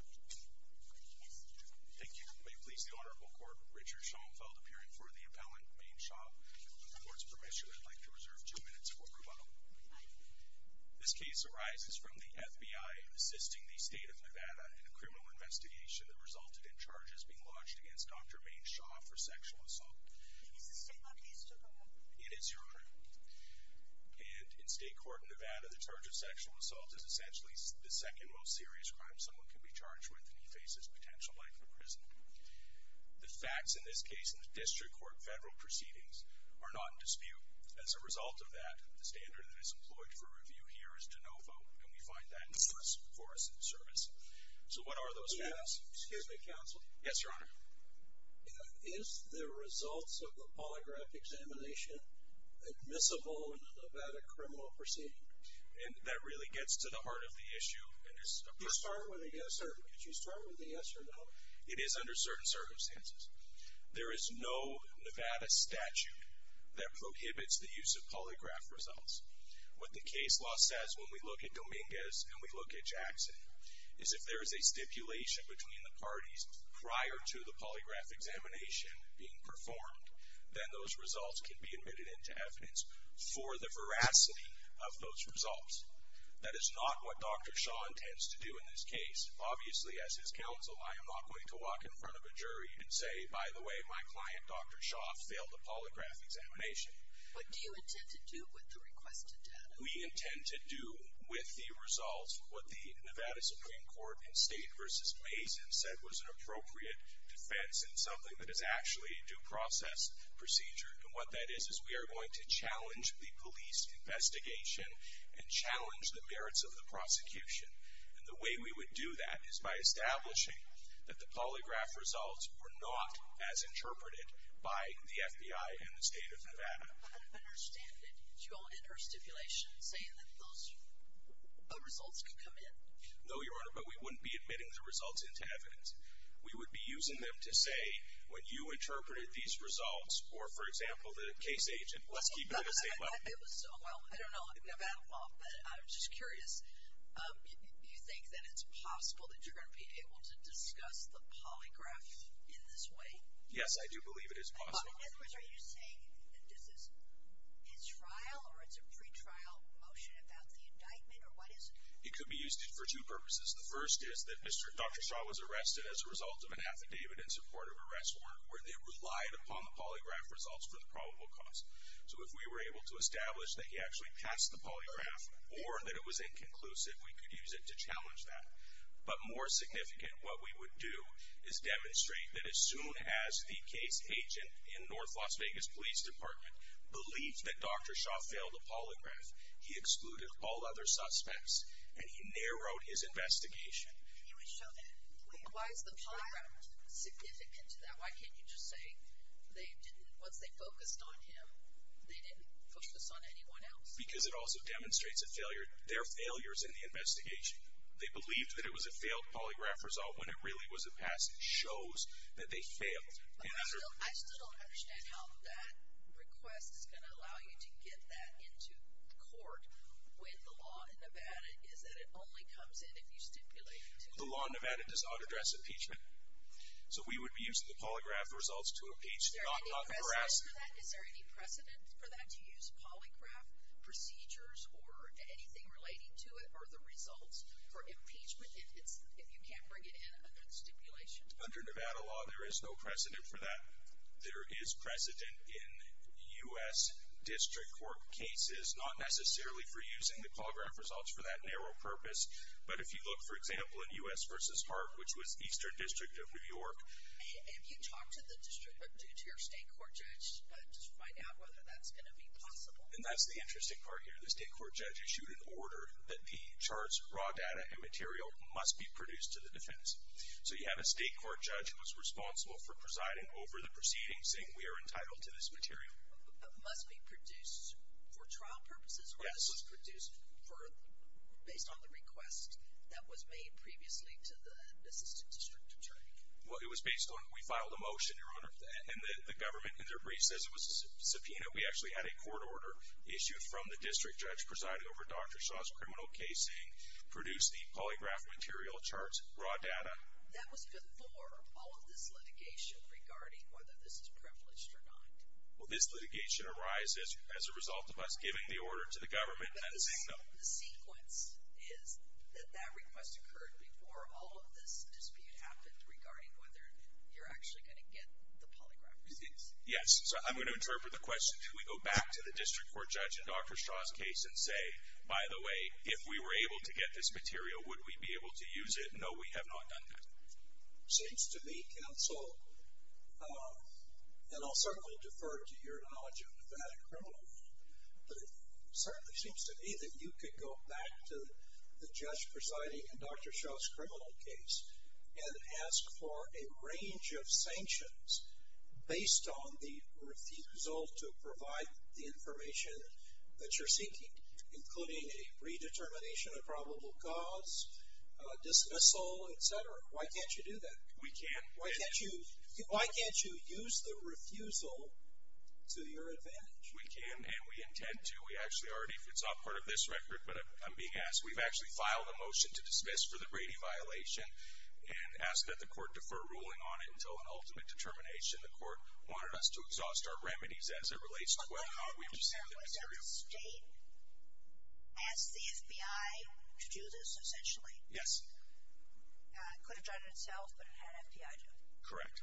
Thank you. May it please the Honorable Court, Richard Schoenfeld appearing for the appellant, Mane Shah. With the Court's permission, I'd like to reserve two minutes for rebuttal. This case arises from the FBI assisting the state of Nevada in a criminal investigation that resulted in charges being lodged against Dr. Mane Shah for sexual assault. Is this a state law case? It is, Your Honor. And in state court in Nevada, the charge of sexual assault is essentially the second most serious crime someone can be charged with when he faces potential life in prison. The facts in this case in the district court federal proceedings are not in dispute. As a result of that, the standard that is employed for review here is de novo, and we find that useful for us in the service. So what are those facts? Excuse me, Counsel. Yes, Your Honor. Is the results of the polygraph examination admissible in a Nevada criminal proceeding? That really gets to the heart of the issue. Did you start with a yes or no? It is under certain circumstances. There is no Nevada statute that prohibits the use of polygraph results. What the case law says when we look at Dominguez and we look at Jackson is if there is a stipulation between the parties prior to the polygraph examination being performed, then those results can be admitted into evidence for the veracity of those results. That is not what Dr. Shah intends to do in this case. Obviously, as his counsel, I am not going to walk in front of a jury and say, by the way, my client, Dr. Shah, failed the polygraph examination. What do you intend to do with the requested data? We intend to do with the results what the Nevada Supreme Court in State v. Mason said was an appropriate defense and something that is actually a due process procedure. And what that is is we are going to challenge the police investigation and challenge the merits of the prosecution. And the way we would do that is by establishing that the polygraph results were not as interpreted by the FBI and the State of Nevada. I don't understand it. Did you all enter a stipulation saying that those results could come in? No, Your Honor, but we wouldn't be admitting the results into evidence. We would be using them to say when you interpreted these results or, for example, the case agent, let's keep it at a state level. Well, I don't know Nevada law, but I'm just curious. Do you think that it's possible that you're going to be able to discuss the polygraph in this way? Yes, I do believe it is possible. In other words, are you saying that this is trial or it's a pretrial motion about the indictment or what is it? It could be used for two purposes. The first is that Dr. Shah was arrested as a result of an affidavit in support of arrest warrant where they relied upon the polygraph results for the probable cause. So if we were able to establish that he actually passed the polygraph or that it was inconclusive, we could use it to challenge that. But more significant, what we would do is demonstrate that as soon as the case agent in North Las Vegas Police Department believed that Dr. Shah failed the polygraph, he excluded all other suspects and he narrowed his investigation. Why is the polygraph significant to that? Why can't you just say once they focused on him, they didn't focus on anyone else? Because it also demonstrates their failures in the investigation. They believed that it was a failed polygraph result when it really was a pass. It shows that they failed. But I still don't understand how that request is going to allow you to get that into court when the law in Nevada is that it only comes in if you stipulate it. The law in Nevada does not address impeachment. So we would be using the polygraph results to impeach, not harass. Is there any precedent for that to use polygraph procedures or anything relating to it or the results for impeachment if you can't bring it in under the stipulation? Under Nevada law, there is no precedent for that. There is precedent in U.S. District Court cases, not necessarily for using the polygraph results for that narrow purpose. But if you look, for example, in U.S. v. Park, which was Eastern District of New York. If you talk to the district, but due to your state court judge, just find out whether that's going to be possible. And that's the interesting part here. The state court judge issued an order that the charts, raw data and material must be produced to the defense. So you have a state court judge who was responsible for presiding over the proceedings saying we are entitled to this material. It must be produced for trial purposes? Yes. Or it was produced based on the request that was made previously to the assistant district attorney? Well, it was based on we filed a motion, Your Honor, and the government in their brief says it was a subpoena. We actually had a court order issued from the district judge presiding over Dr. Shaw's criminal case saying produce the polygraph material charts, raw data. That was before all of this litigation regarding whether this is privileged or not. Well, this litigation arises as a result of us giving the order to the government. But the sequence is that that request occurred before all of this dispute happened regarding whether you're actually going to get the polygraph results. Yes. So I'm going to interpret the question. We go back to the district court judge in Dr. Shaw's case and say, by the way, if we were able to get this material, would we be able to use it? No, we have not done that. It seems to me, counsel, and I'll certainly defer to your knowledge of Nevada criminal law, but it certainly seems to me that you could go back to the judge presiding in Dr. Shaw's criminal case and ask for a range of sanctions based on the refusal to provide the information that you're seeking, including a redetermination of probable cause, dismissal, et cetera. Why can't you do that? We can. Why can't you use the refusal to your advantage? We can, and we intend to. We actually already, it's not part of this record, but I'm being asked. We've actually filed a motion to dismiss for the Brady violation and asked that the court defer ruling on it until an ultimate determination. The court wanted us to exhaust our remedies as it relates to whether or not we've received the material. Was there a state that asked the FBI to do this, essentially? Yes. It could have done it itself, but it had an FBI doing it. Correct.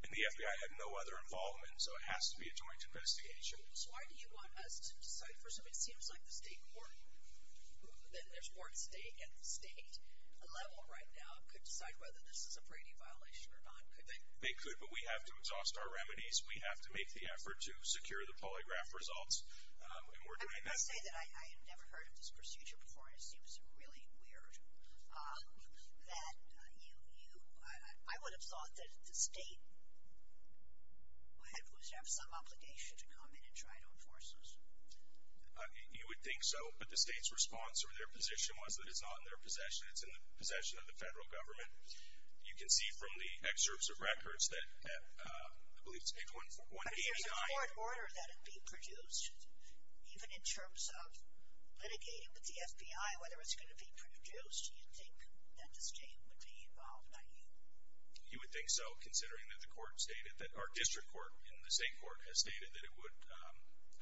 And the FBI had no other involvement, so it has to be a joint investigation. Sure. So why do you want us to decide for something that seems like the state court, then there's more at the state level right now, could decide whether this is a Brady violation or not, could they? They could, but we have to exhaust our remedies. We have to make the effort to secure the polygraph results, and we're doing that. I must say that I have never heard of this procedure before, and it seems really weird. I would have thought that the state would have some obligation to come in and try to enforce this. You would think so, but the state's response or their position was that it's not in their possession, it's in the possession of the federal government. You can see from the excerpts of records that I believe it's 8.189. There's a court order that would be produced, even in terms of litigating with the FBI, whether it's going to be produced, do you think that the state would be involved by you? You would think so, considering that the court stated, that our district court in the state court has stated that it would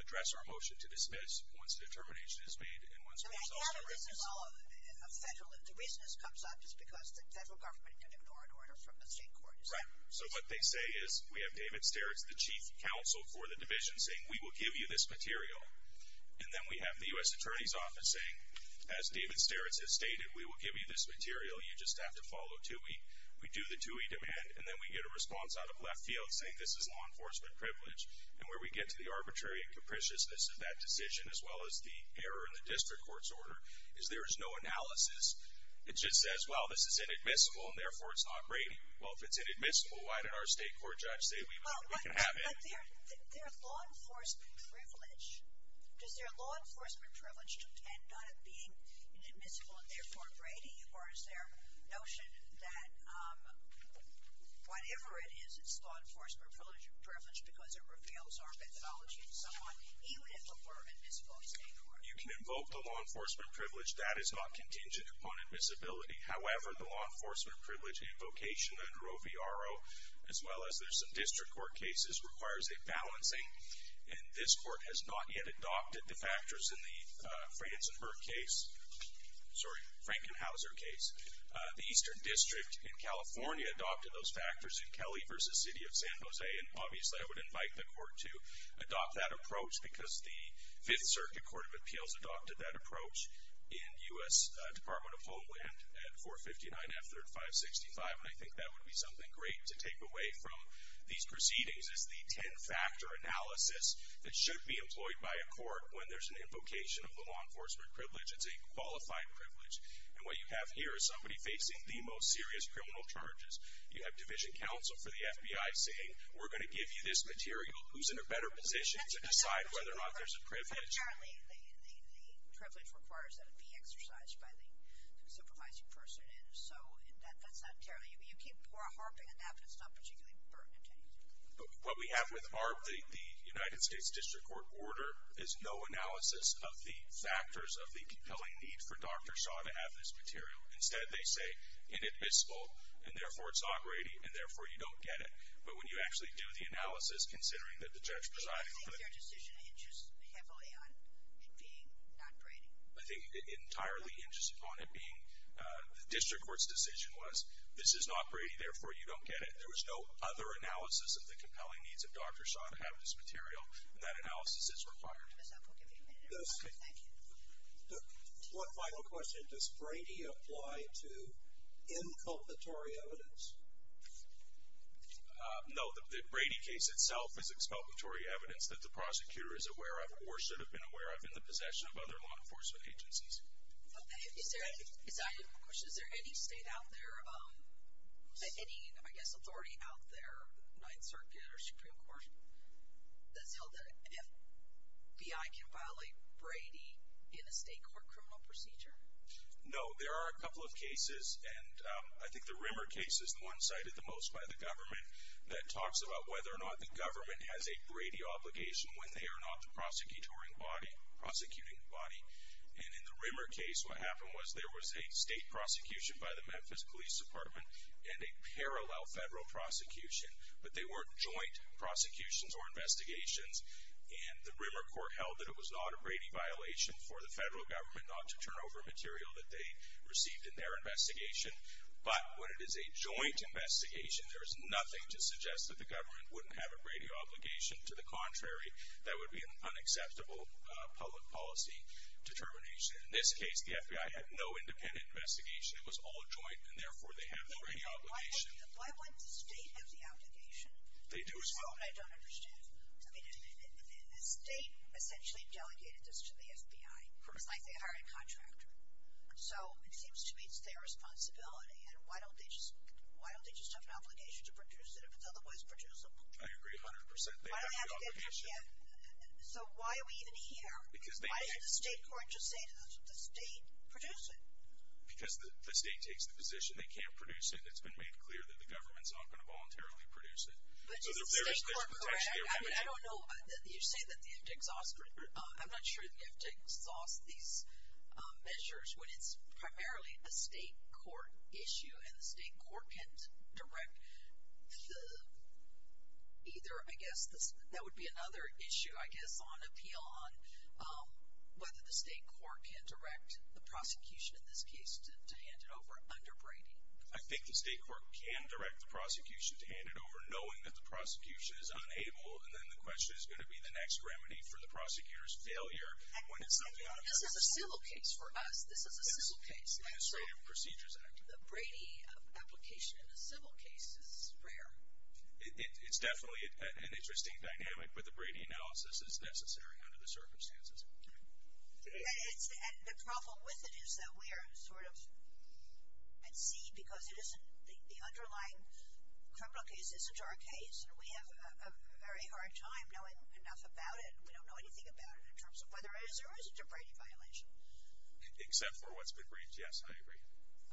address our motion to dismiss once the determination is made and once we've solved the reasons. The reason this comes up is because the federal government ignored orders from the state court, is that right? Right. So what they say is we have David Sterritts, the chief counsel for the division, saying we will give you this material, and then we have the U.S. Attorney's Office saying, as David Sterritts has stated, we will give you this material, you just have to follow TUI. We do the TUI demand, and then we get a response out of left field saying this is law enforcement privilege. And where we get to the arbitrary and capriciousness of that decision, as well as the error in the district court's order, is there is no analysis. It just says, well, this is inadmissible, and therefore it's not Brady. Well, if it's inadmissible, why did our state court judge say we can have it? But their law enforcement privilege, does their law enforcement privilege depend on it being inadmissible and therefore Brady, or is there a notion that whatever it is, it's law enforcement privilege because it reveals our methodology to someone even if it were inadmissible in state court? You can invoke the law enforcement privilege. That is not contingent upon admissibility. However, the law enforcement privilege invocation under OVRO, as well as there's some district court cases, requires a balancing, and this court has not yet adopted the factors in the Frankenhauser case. The Eastern District in California adopted those factors in Kelly v. City of San Jose, and obviously I would invite the court to adopt that approach because the Fifth Circuit Court of Appeals adopted that approach in U.S. Department of Homeland at 459 F3565, and I think that would be something great to take away from these proceedings is the ten-factor analysis that should be employed by a court when there's an invocation of the law enforcement privilege. It's a qualified privilege, and what you have here is somebody facing the most serious criminal charges. You have division counsel for the FBI saying we're going to give you this material. Who's in a better position to decide whether or not there's a privilege? Apparently, the privilege requires that it be exercised by the supervising person, and so that's not entirely. You keep harping on that, but it's not particularly pertinent to anything. What we have with the United States District Court order is no analysis of the factors of the compelling need for Dr. Shaw to have this material. Instead, they say inadmissible, and therefore it's awkward, and therefore you don't get it. But when you actually do the analysis, considering that the judge presiding. I think their decision hinges heavily on it being not Brady. I think it entirely hinges upon it being the district court's decision was this is not Brady, therefore you don't get it. There was no other analysis of the compelling needs of Dr. Shaw to have this material, and that analysis is required. Ms. Elk, we'll give you a minute. Thank you. One final question. Does Brady apply to inculpatory evidence? No. The Brady case itself is expulgatory evidence that the prosecutor is aware of or should have been aware of in the possession of other law enforcement agencies. Is there any state out there, any, I guess, authority out there, Ninth Circuit or Supreme Court, that's held that FBI can violate Brady in a state court criminal procedure? No. There are a couple of cases, and I think the Rimmer case is the one cited the most by the government that talks about whether or not the government has a Brady obligation when they are not the prosecuting body. And in the Rimmer case, what happened was there was a state prosecution by the Memphis Police Department and a parallel federal prosecution, but they weren't joint prosecutions or investigations. And the Rimmer court held that it was not a Brady violation for the federal government not to turn over material that they received in their investigation. But when it is a joint investigation, there is nothing to suggest that the government wouldn't have a Brady obligation. To the contrary, that would be an unacceptable public policy determination. In this case, the FBI had no independent investigation. It was all joint, and therefore they have the Brady obligation. Why wouldn't the state have the obligation? They do as well. I don't understand. I mean, the state essentially delegated this to the FBI. It's like they hired a contractor. So it seems to me it's their responsibility, and why don't they just have an obligation to produce it if it's otherwise producible? I agree 100%. Why don't they have the obligation? So why are we even here? Why didn't the state court just say to the state, produce it? Because the state takes the position they can't produce it, and it's been made clear that the government is not going to voluntarily produce it. So there is potentially a remedy. I don't know. You say that they have to exhaust it. I'm not sure they have to exhaust these measures when it's primarily a state court issue, and the state court can't direct either, I guess, that would be another issue, I guess, on appeal on whether the state court can direct the prosecution in this case to hand it over under Brady. I think the state court can direct the prosecution to hand it over, knowing that the prosecution is unable, and then the question is going to be the next remedy for the prosecutor's failure. This is a civil case for us. This is a civil case. The Brady application in a civil case is rare. It's definitely an interesting dynamic, but the Brady analysis is necessary under the circumstances. And the problem with it is that we are sort of at sea because the underlying criminal case isn't our case, and we have a very hard time knowing enough about it, and we don't know anything about it in terms of whether it is or isn't a Brady violation. Except for what's been briefed, yes, I agree.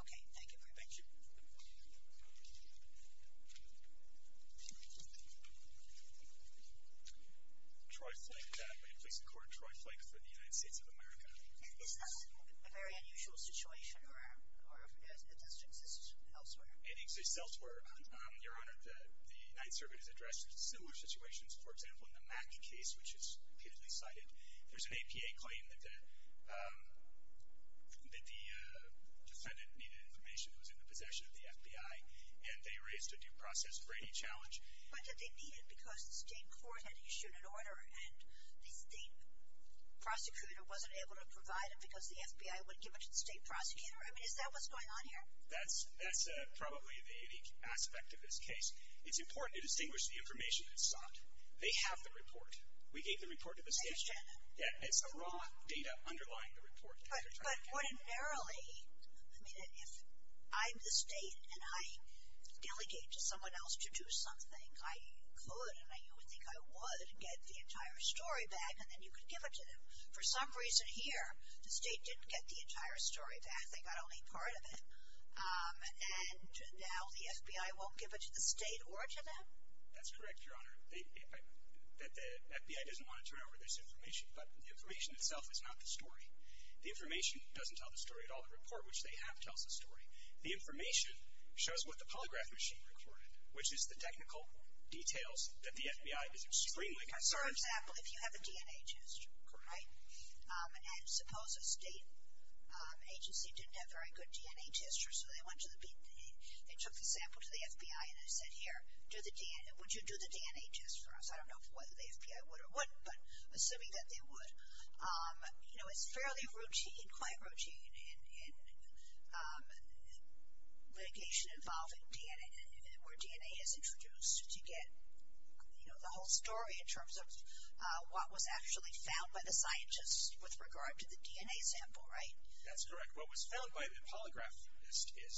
Okay, thank you very much. Thank you. Troy Flake, Brady Police Court. Troy Flake for the United States of America. Is this a very unusual situation, or does it exist elsewhere? It exists elsewhere, Your Honor. The United States Service has addressed similar situations. For example, in the Mack case, which is repeatedly cited, there's an APA claim that the defendant needed information that was in the possession of the FBI, and they raised a due process Brady challenge. But did they need it because the state court had issued an order and the state prosecutor wasn't able to provide it because the FBI wouldn't give it to the state prosecutor? I mean, is that what's going on here? That's probably the aspect of this case. It's important to distinguish the information that's sought. They have the report. We gave the report to the state. I understand that. It's the raw data underlying the report. But ordinarily, I mean, if I'm the state and I delegate to someone else to do something, I could and I would think I would get the entire story back, and then you could give it to them. For some reason here, the state didn't get the entire story back. They got only part of it. And now the FBI won't give it to the state or to them? That's correct, Your Honor. The FBI doesn't want to turn over this information, but the information itself is not the story. The information doesn't tell the story at all. The report, which they have, tells the story. The information shows what the polygraph machine recorded, which is the technical details that the FBI is extremely concerned about. So, for example, if you have a DNA test, correct? And suppose a state agency didn't have very good DNA tests, so they took the sample to the FBI and they said, here, would you do the DNA test for us? I don't know whether the FBI would or wouldn't, but assuming that they would. You know, it's fairly routine, quite routine in litigation involving DNA, where DNA is introduced to get, you know, the whole story in terms of what was actually found by the scientists with regard to the DNA sample, right? That's correct. What was found by the polygraphist is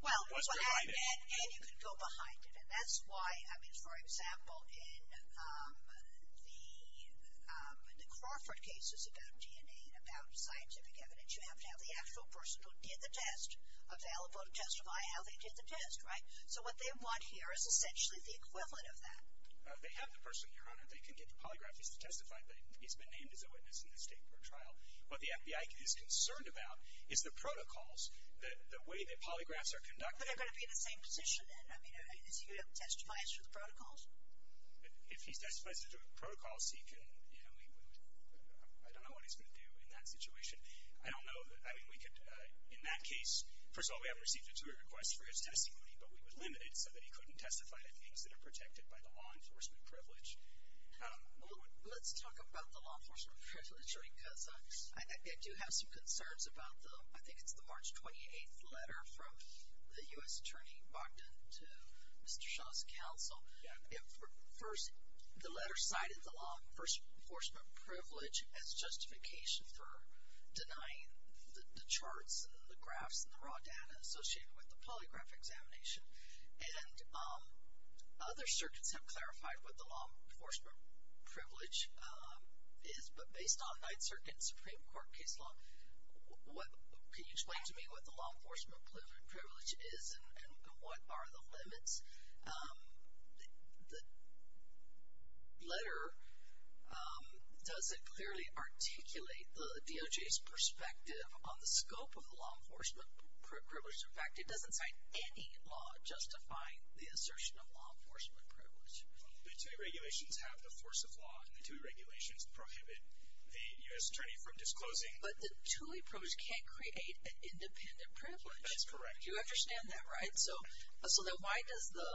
what's behind it. Well, and you could go behind it. That's why, I mean, for example, in the Crawford cases about DNA and about scientific evidence, you have to have the actual person who did the test available to testify how they did the test, right? So what they want here is essentially the equivalent of that. They have the person here on it. They can get the polygraphist to testify that he's been named as a witness in the state for a trial. What the FBI is concerned about is the protocols, the way that polygraphs are conducted. But they're going to be in the same position. I mean, is he going to have to testify as to the protocols? If he testifies as to the protocols, he can, you know, he would, I don't know what he's going to do in that situation. I don't know. I mean, we could, in that case, first of all, we haven't received a jury request for his testimony, but we would limit it so that he couldn't testify to things that are protected by the law enforcement privilege. Let's talk about the law enforcement privilege, because I do have some concerns about the, I think it's the March 28th letter from the U.S. Attorney Bogdan to Mr. Shah's counsel. First, the letter cited the law enforcement privilege as justification for denying the charts and the graphs and the raw data associated with the polygraph examination. And other circuits have clarified what the law enforcement privilege is, but based on night circuit and Supreme Court case law, can you explain to me what the law enforcement privilege is and what are the limits? The letter doesn't clearly articulate the DOJ's perspective on the scope of the law enforcement privilege. In fact, it doesn't cite any law justifying the assertion of law enforcement privilege. The TOOEY regulations have the force of law, and the TOOEY regulations prohibit the U.S. Attorney from disclosing. But the TOOEY privilege can't create an independent privilege. That's correct. You understand that, right? So then why does the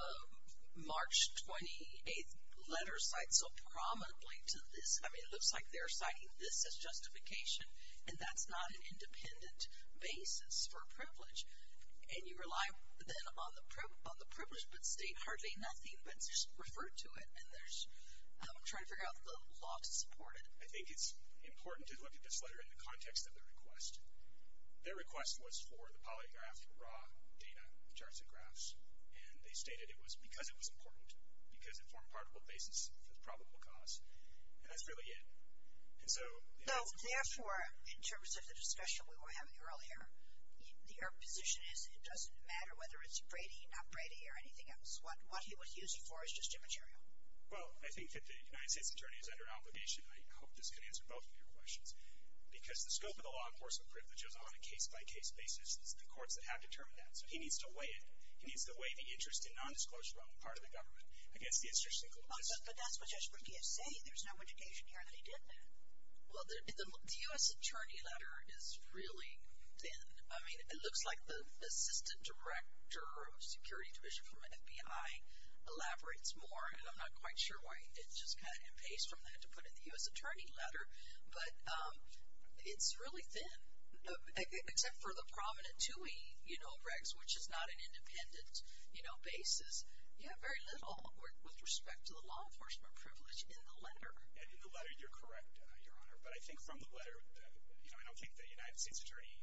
March 28th letter cite so prominently to this? I mean, it looks like they're citing this as justification, and that's not an independent basis for privilege. And you rely then on the privilege but state hardly nothing but just refer to it, and they're trying to figure out the law to support it. I think it's important to look at this letter in the context of the request. Their request was for the polygraph raw data, the charts and graphs, and they stated it was because it was important, because it formed part of a basis for the probable cause. And that's really it. No, therefore, in terms of the discussion we were having earlier, your position is it doesn't matter whether it's Brady, not Brady, or anything else. What he was using for is just immaterial. Well, I think that the United States Attorney is under obligation, and I hope this can answer both of your questions, because the scope of the law enforcement privilege is on a case-by-case basis, and it's the courts that have determined that. So he needs to weigh it. He needs to weigh the interest in nondisclosure on the part of the government against the institution. But that's just what he is saying. There's no indication here that he did that. Well, the U.S. Attorney letter is really thin. I mean, it looks like the Assistant Director of Security Division for the FBI elaborates more, and I'm not quite sure why it's just kind of emphased from that to put in the U.S. Attorney letter. But it's really thin, except for the prominent TUI regs, which is not an independent basis. You have very little with respect to the law enforcement privilege in the letter. In the letter, you're correct, Your Honor. But I think from the letter, you know, I don't think the United States Attorney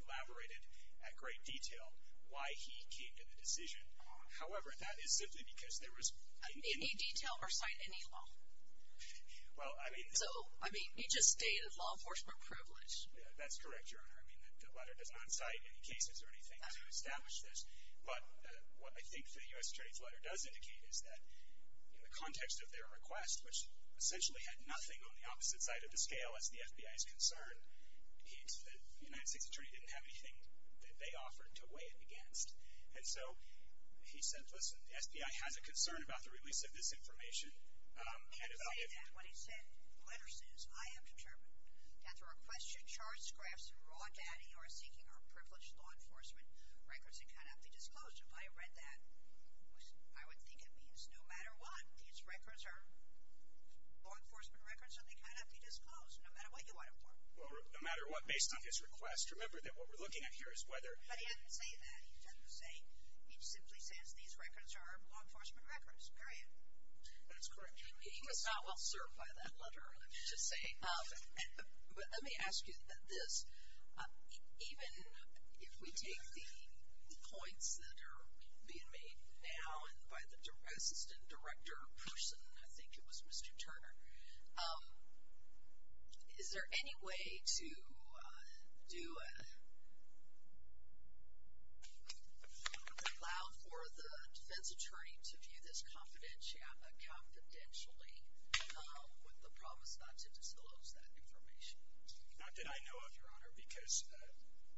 elaborated in great detail why he came to the decision. However, that is simply because there was any – Any detail or cite any law. Well, I mean – So, I mean, he just stated law enforcement privilege. That's correct, Your Honor. I mean, the letter does not cite any cases or anything to establish this. But what I think the U.S. Attorney's letter does indicate is that in the context of their request, which essentially had nothing on the opposite side of the scale as the FBI's concern, the United States Attorney didn't have anything that they offered to weigh in against. And so he said, listen, the FBI has a concern about the release of this information. And if I get that, what he said, the letter says, I am determined that the request should charge Grafson raw data, or seeking or privileged law enforcement records, and cannot be disclosed. If I read that, I would think it means no matter what, these records are law enforcement records and they cannot be disclosed, no matter what you want them for. Well, no matter what, based on his request. Remember that what we're looking at here is whether – But he didn't say that. He didn't say – he simply says these records are law enforcement records, period. That's correct. He was not well served by that letter, I'm just saying. But let me ask you this. Even if we take the points that are being made now, and by the Assistant Director person, I think it was Mr. Turner, is there any way to allow for the defense attorney to view this confidentially, with the promise not to disclose that information? Not that I know of, Your Honor, because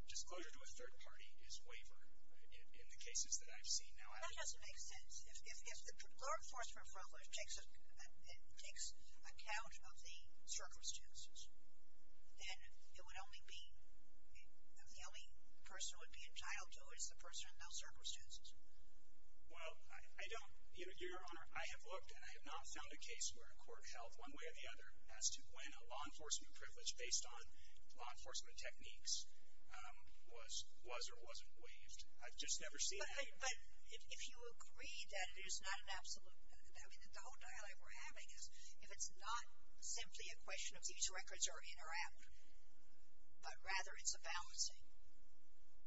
disclosure to a third party is waiver in the cases that I've seen. That doesn't make sense. If the law enforcement takes account of the circumstances, then it would only be – the only person who would be entitled to it is the person in those circumstances. Well, I don't – Your Honor, I have looked, and I have not found a case where a court held one way or the other as to when a law enforcement privilege based on law enforcement techniques was or wasn't waived. I've just never seen that. But if you agree that it is not an absolute – I mean, the whole dialogue we're having is, if it's not simply a question of these records are in or out, but rather it's a balancing,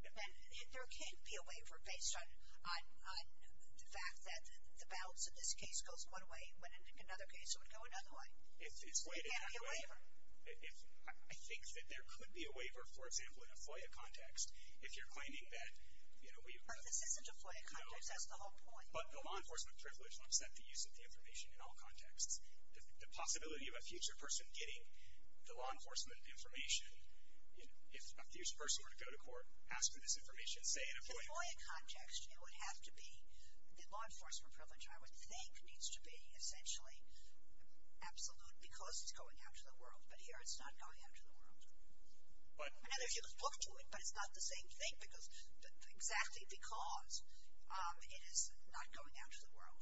then there can't be a waiver based on the fact that the balance in this case goes one way, when in another case it would go another way. There can't be a waiver. I think that there could be a waiver, for example, in a FOIA context, if you're claiming that – But this isn't a FOIA context. That's the whole point. But the law enforcement privilege won't stop the use of the information in all contexts. The possibility of a future person getting the law enforcement information, if a future person were to go to court, ask for this information, say, in a FOIA context. In a FOIA context, it would have to be – the law enforcement privilege, I would think, needs to be essentially absolute because it's going out to the world. But here it's not going out to the world. Now, there's a book to it, but it's not the same thing, exactly because it is not going out to the world.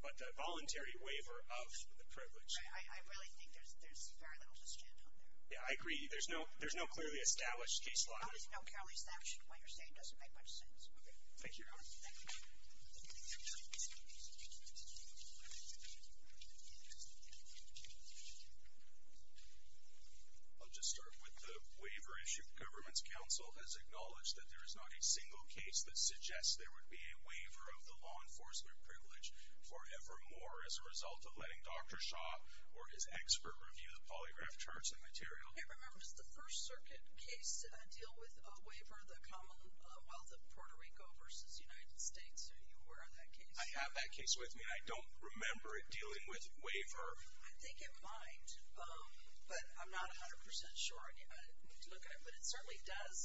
But a voluntary waiver of the privilege. I really think there's very little to stand on there. Yeah, I agree. There's no clearly established case law. How does it know Kelly's that? What you're saying doesn't make much sense. Thank you, Your Honor. Thank you. I'll just start with the waiver issue. The government's counsel has acknowledged that there is not a single case that suggests there would be a waiver of the law enforcement privilege forevermore as a result of letting Dr. Shaw or his expert review the polygraph charts and material. Hey, remember, does the First Circuit case deal with a waiver, the Commonwealth of Puerto Rico versus the United States? Are you aware of that case? I have that case with me. I don't remember it dealing with waiver. I think it might, but I'm not 100% sure. But it certainly does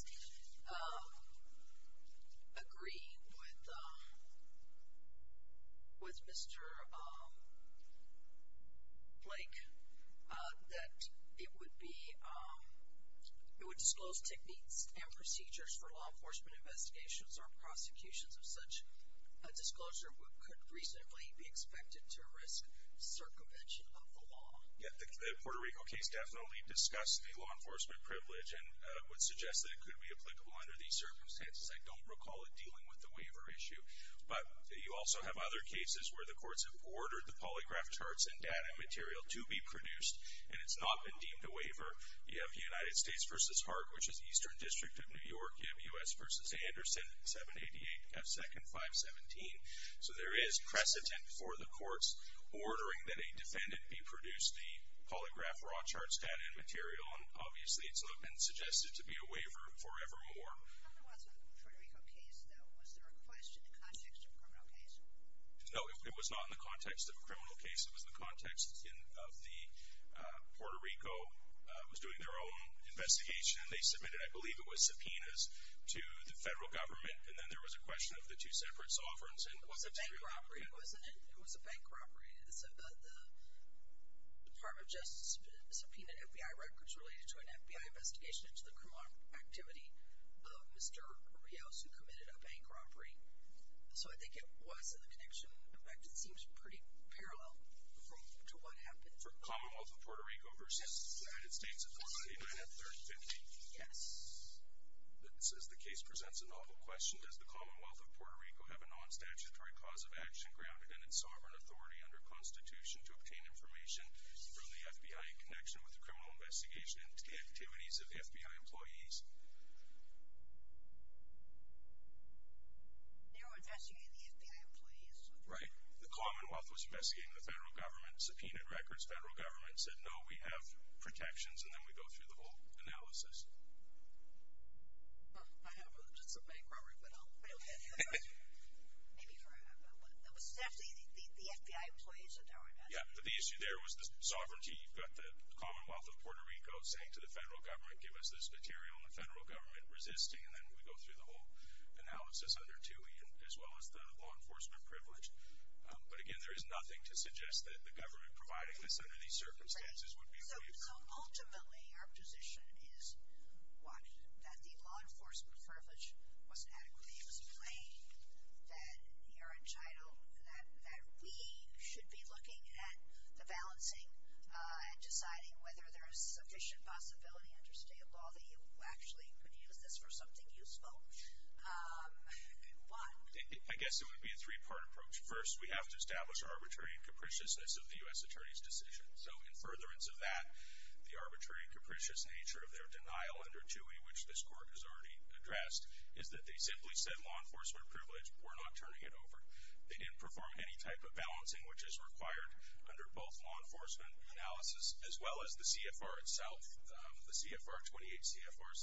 agree with Mr. Blake that it would disclose techniques and procedures for law enforcement investigations or prosecutions of such. A disclosure could reasonably be expected to risk circumvention of the law. The Puerto Rico case definitely discussed the law enforcement privilege and would suggest that it could be applicable under these circumstances. I don't recall it dealing with the waiver issue. But you also have other cases where the courts have ordered the polygraph charts and data material to be produced, and it's not been deemed a waiver. You have the United States versus Hart, which is Eastern District of New York. You have U.S. versus Anderson, 788 F2nd 517. So there is precedent for the courts ordering that a defendant be produced the polygraph raw charts, data, and material. And, obviously, it's not been suggested to be a waiver forevermore. When there was a Puerto Rico case, though, was there a question in the context of a criminal case? No, it was not in the context of a criminal case. It was in the context of the Puerto Rico was doing their own investigation, and they submitted, I believe it was subpoenas, to the federal government. And then there was a question of the two separate sovereigns. It was a bank robbery, wasn't it? It was a bank robbery. The Department of Justice subpoenaed FBI records related to an FBI investigation into the criminal activity of Mr. Rios, who committed a bank robbery. So I think it was in the connection. In fact, it seems pretty parallel to what happened. From Commonwealth of Puerto Rico versus the United States at 499 and 3050? Yes. It says the case presents a novel question. Does the Commonwealth of Puerto Rico have a non-statutory cause of action grounded in its sovereign authority under Constitution to obtain information from the FBI in connection with the criminal investigation into the activities of FBI employees? They were investigating the FBI employees. Right. The Commonwealth was investigating the federal government, subpoenaed records. The federal government said, no, we have protections, and then we go through the whole analysis. I haven't. It's a bank robbery, but I don't have any. Maybe you have, but the FBI employees are doing it. Yeah, but the issue there was the sovereignty. You've got the Commonwealth of Puerto Rico saying to the federal government, give us this material, and the federal government resisting, and then we go through the whole analysis under TUI, as well as the law enforcement privilege. But, again, there is nothing to suggest that the government providing this under these circumstances would be of use. Right. So, ultimately, our position is what? That the law enforcement privilege wasn't adequate, it was plain, that you're entitled, that we should be looking at the balancing and deciding whether there is sufficient possibility under state law that you actually could use this for something useful. Why? I guess it would be a three-part approach. First, we have to establish arbitrary and capriciousness of the U.S. Attorney's decision. So, in furtherance of that, the arbitrary and capricious nature of their denial under TUI, which this court has already addressed, is that they simply said law enforcement privilege, we're not turning it over. They didn't perform any type of balancing, which is required under both law enforcement analysis, as well as the CFR itself. The CFR 28, CFR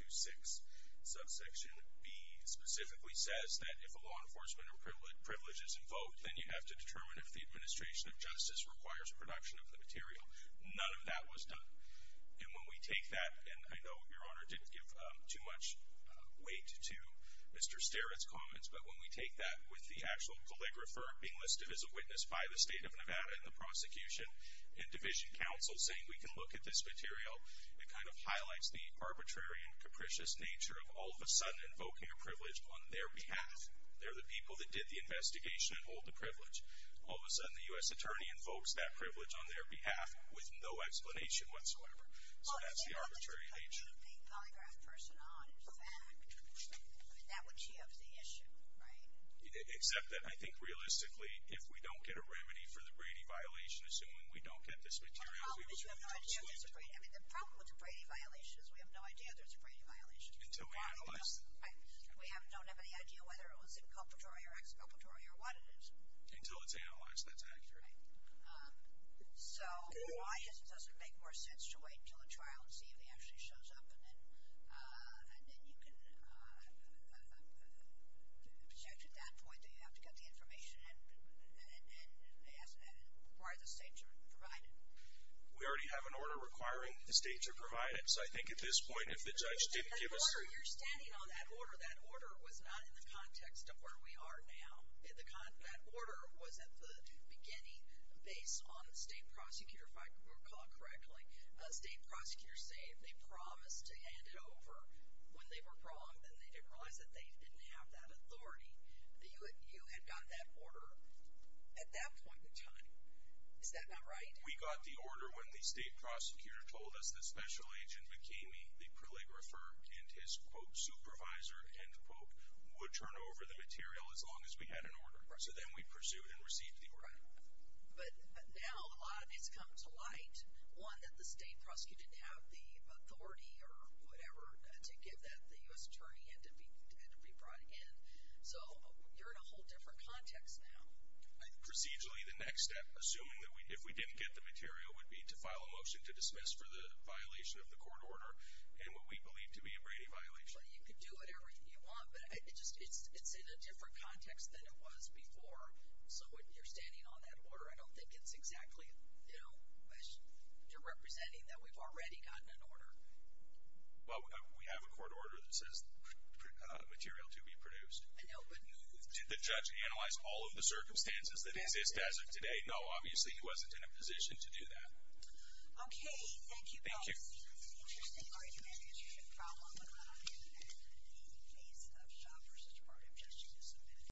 16.26, subsection B, specifically says that if a law enforcement privilege is invoked, then you have to determine if the administration of justice requires production of the material. None of that was done. And when we take that, and I know Your Honor didn't give too much weight to Mr. Starrett's comments, but when we take that with the actual calligrapher being listed as a witness by the State of Nevada in the prosecution, and division counsel saying we can look at this material, it kind of highlights the arbitrary and capricious nature of all of a sudden invoking a privilege on their behalf. They're the people that did the investigation and hold the privilege. All of a sudden, the U.S. Attorney invokes that privilege on their behalf with no explanation whatsoever. So, that's the arbitrary nature. Well, if they're only putting the calligraphed person on, in fact, then that would shift the issue, right? Except that, I think, realistically, if we don't get a remedy for the Brady violation, assuming we don't get this material, we would really be excluded. Well, the problem is we have no idea if there's a Brady violation. I mean, the problem with the Brady violation is we have no idea if there's a Brady violation. Until we analyze it. Right. We don't have any idea whether it was inculpatory or exculpatory or what it is. Until it's analyzed and it's accurate. Right. So, why it doesn't make more sense to wait until the trial and see if he actually shows up, and then you can project at that point that you have to get the information and require the state to provide it. We already have an order requiring the state to provide it. So, I think at this point, if the judge didn't give us. The order. You're standing on that order. That order was not in the context of where we are now. That order was at the beginning, based on the state prosecutor, if I recall correctly. State prosecutors say if they promised to hand it over when they were wrong, then they didn't realize that they didn't have that authority. You had gotten that order at that point in time. Is that not right? We got the order when the state prosecutor told us that Special Agent McKamey, the proligrapher, and his, quote, supervisor, end quote, would turn over the material as long as we had an order. So, then we pursued and received the order. Right. But now, a lot of it's come to light. One, that the state prosecutor didn't have the authority or whatever to give that. The U.S. attorney had to be brought in. So, you're in a whole different context now. Procedurally, the next step, assuming that we didn't get the material, would be to file a motion to dismiss for the violation of the court order and what we believe to be a Brady violation. Well, you can do whatever you want, but it's in a different context than it was before. So, you're standing on that order. I don't think it's exactly, you know, you're representing that we've already gotten an order. Well, we have a court order that says material to be produced. Did the judge analyze all of the circumstances that exist as of today? No. Obviously, he wasn't in a position to do that. Okay. Thank you both. Thank you.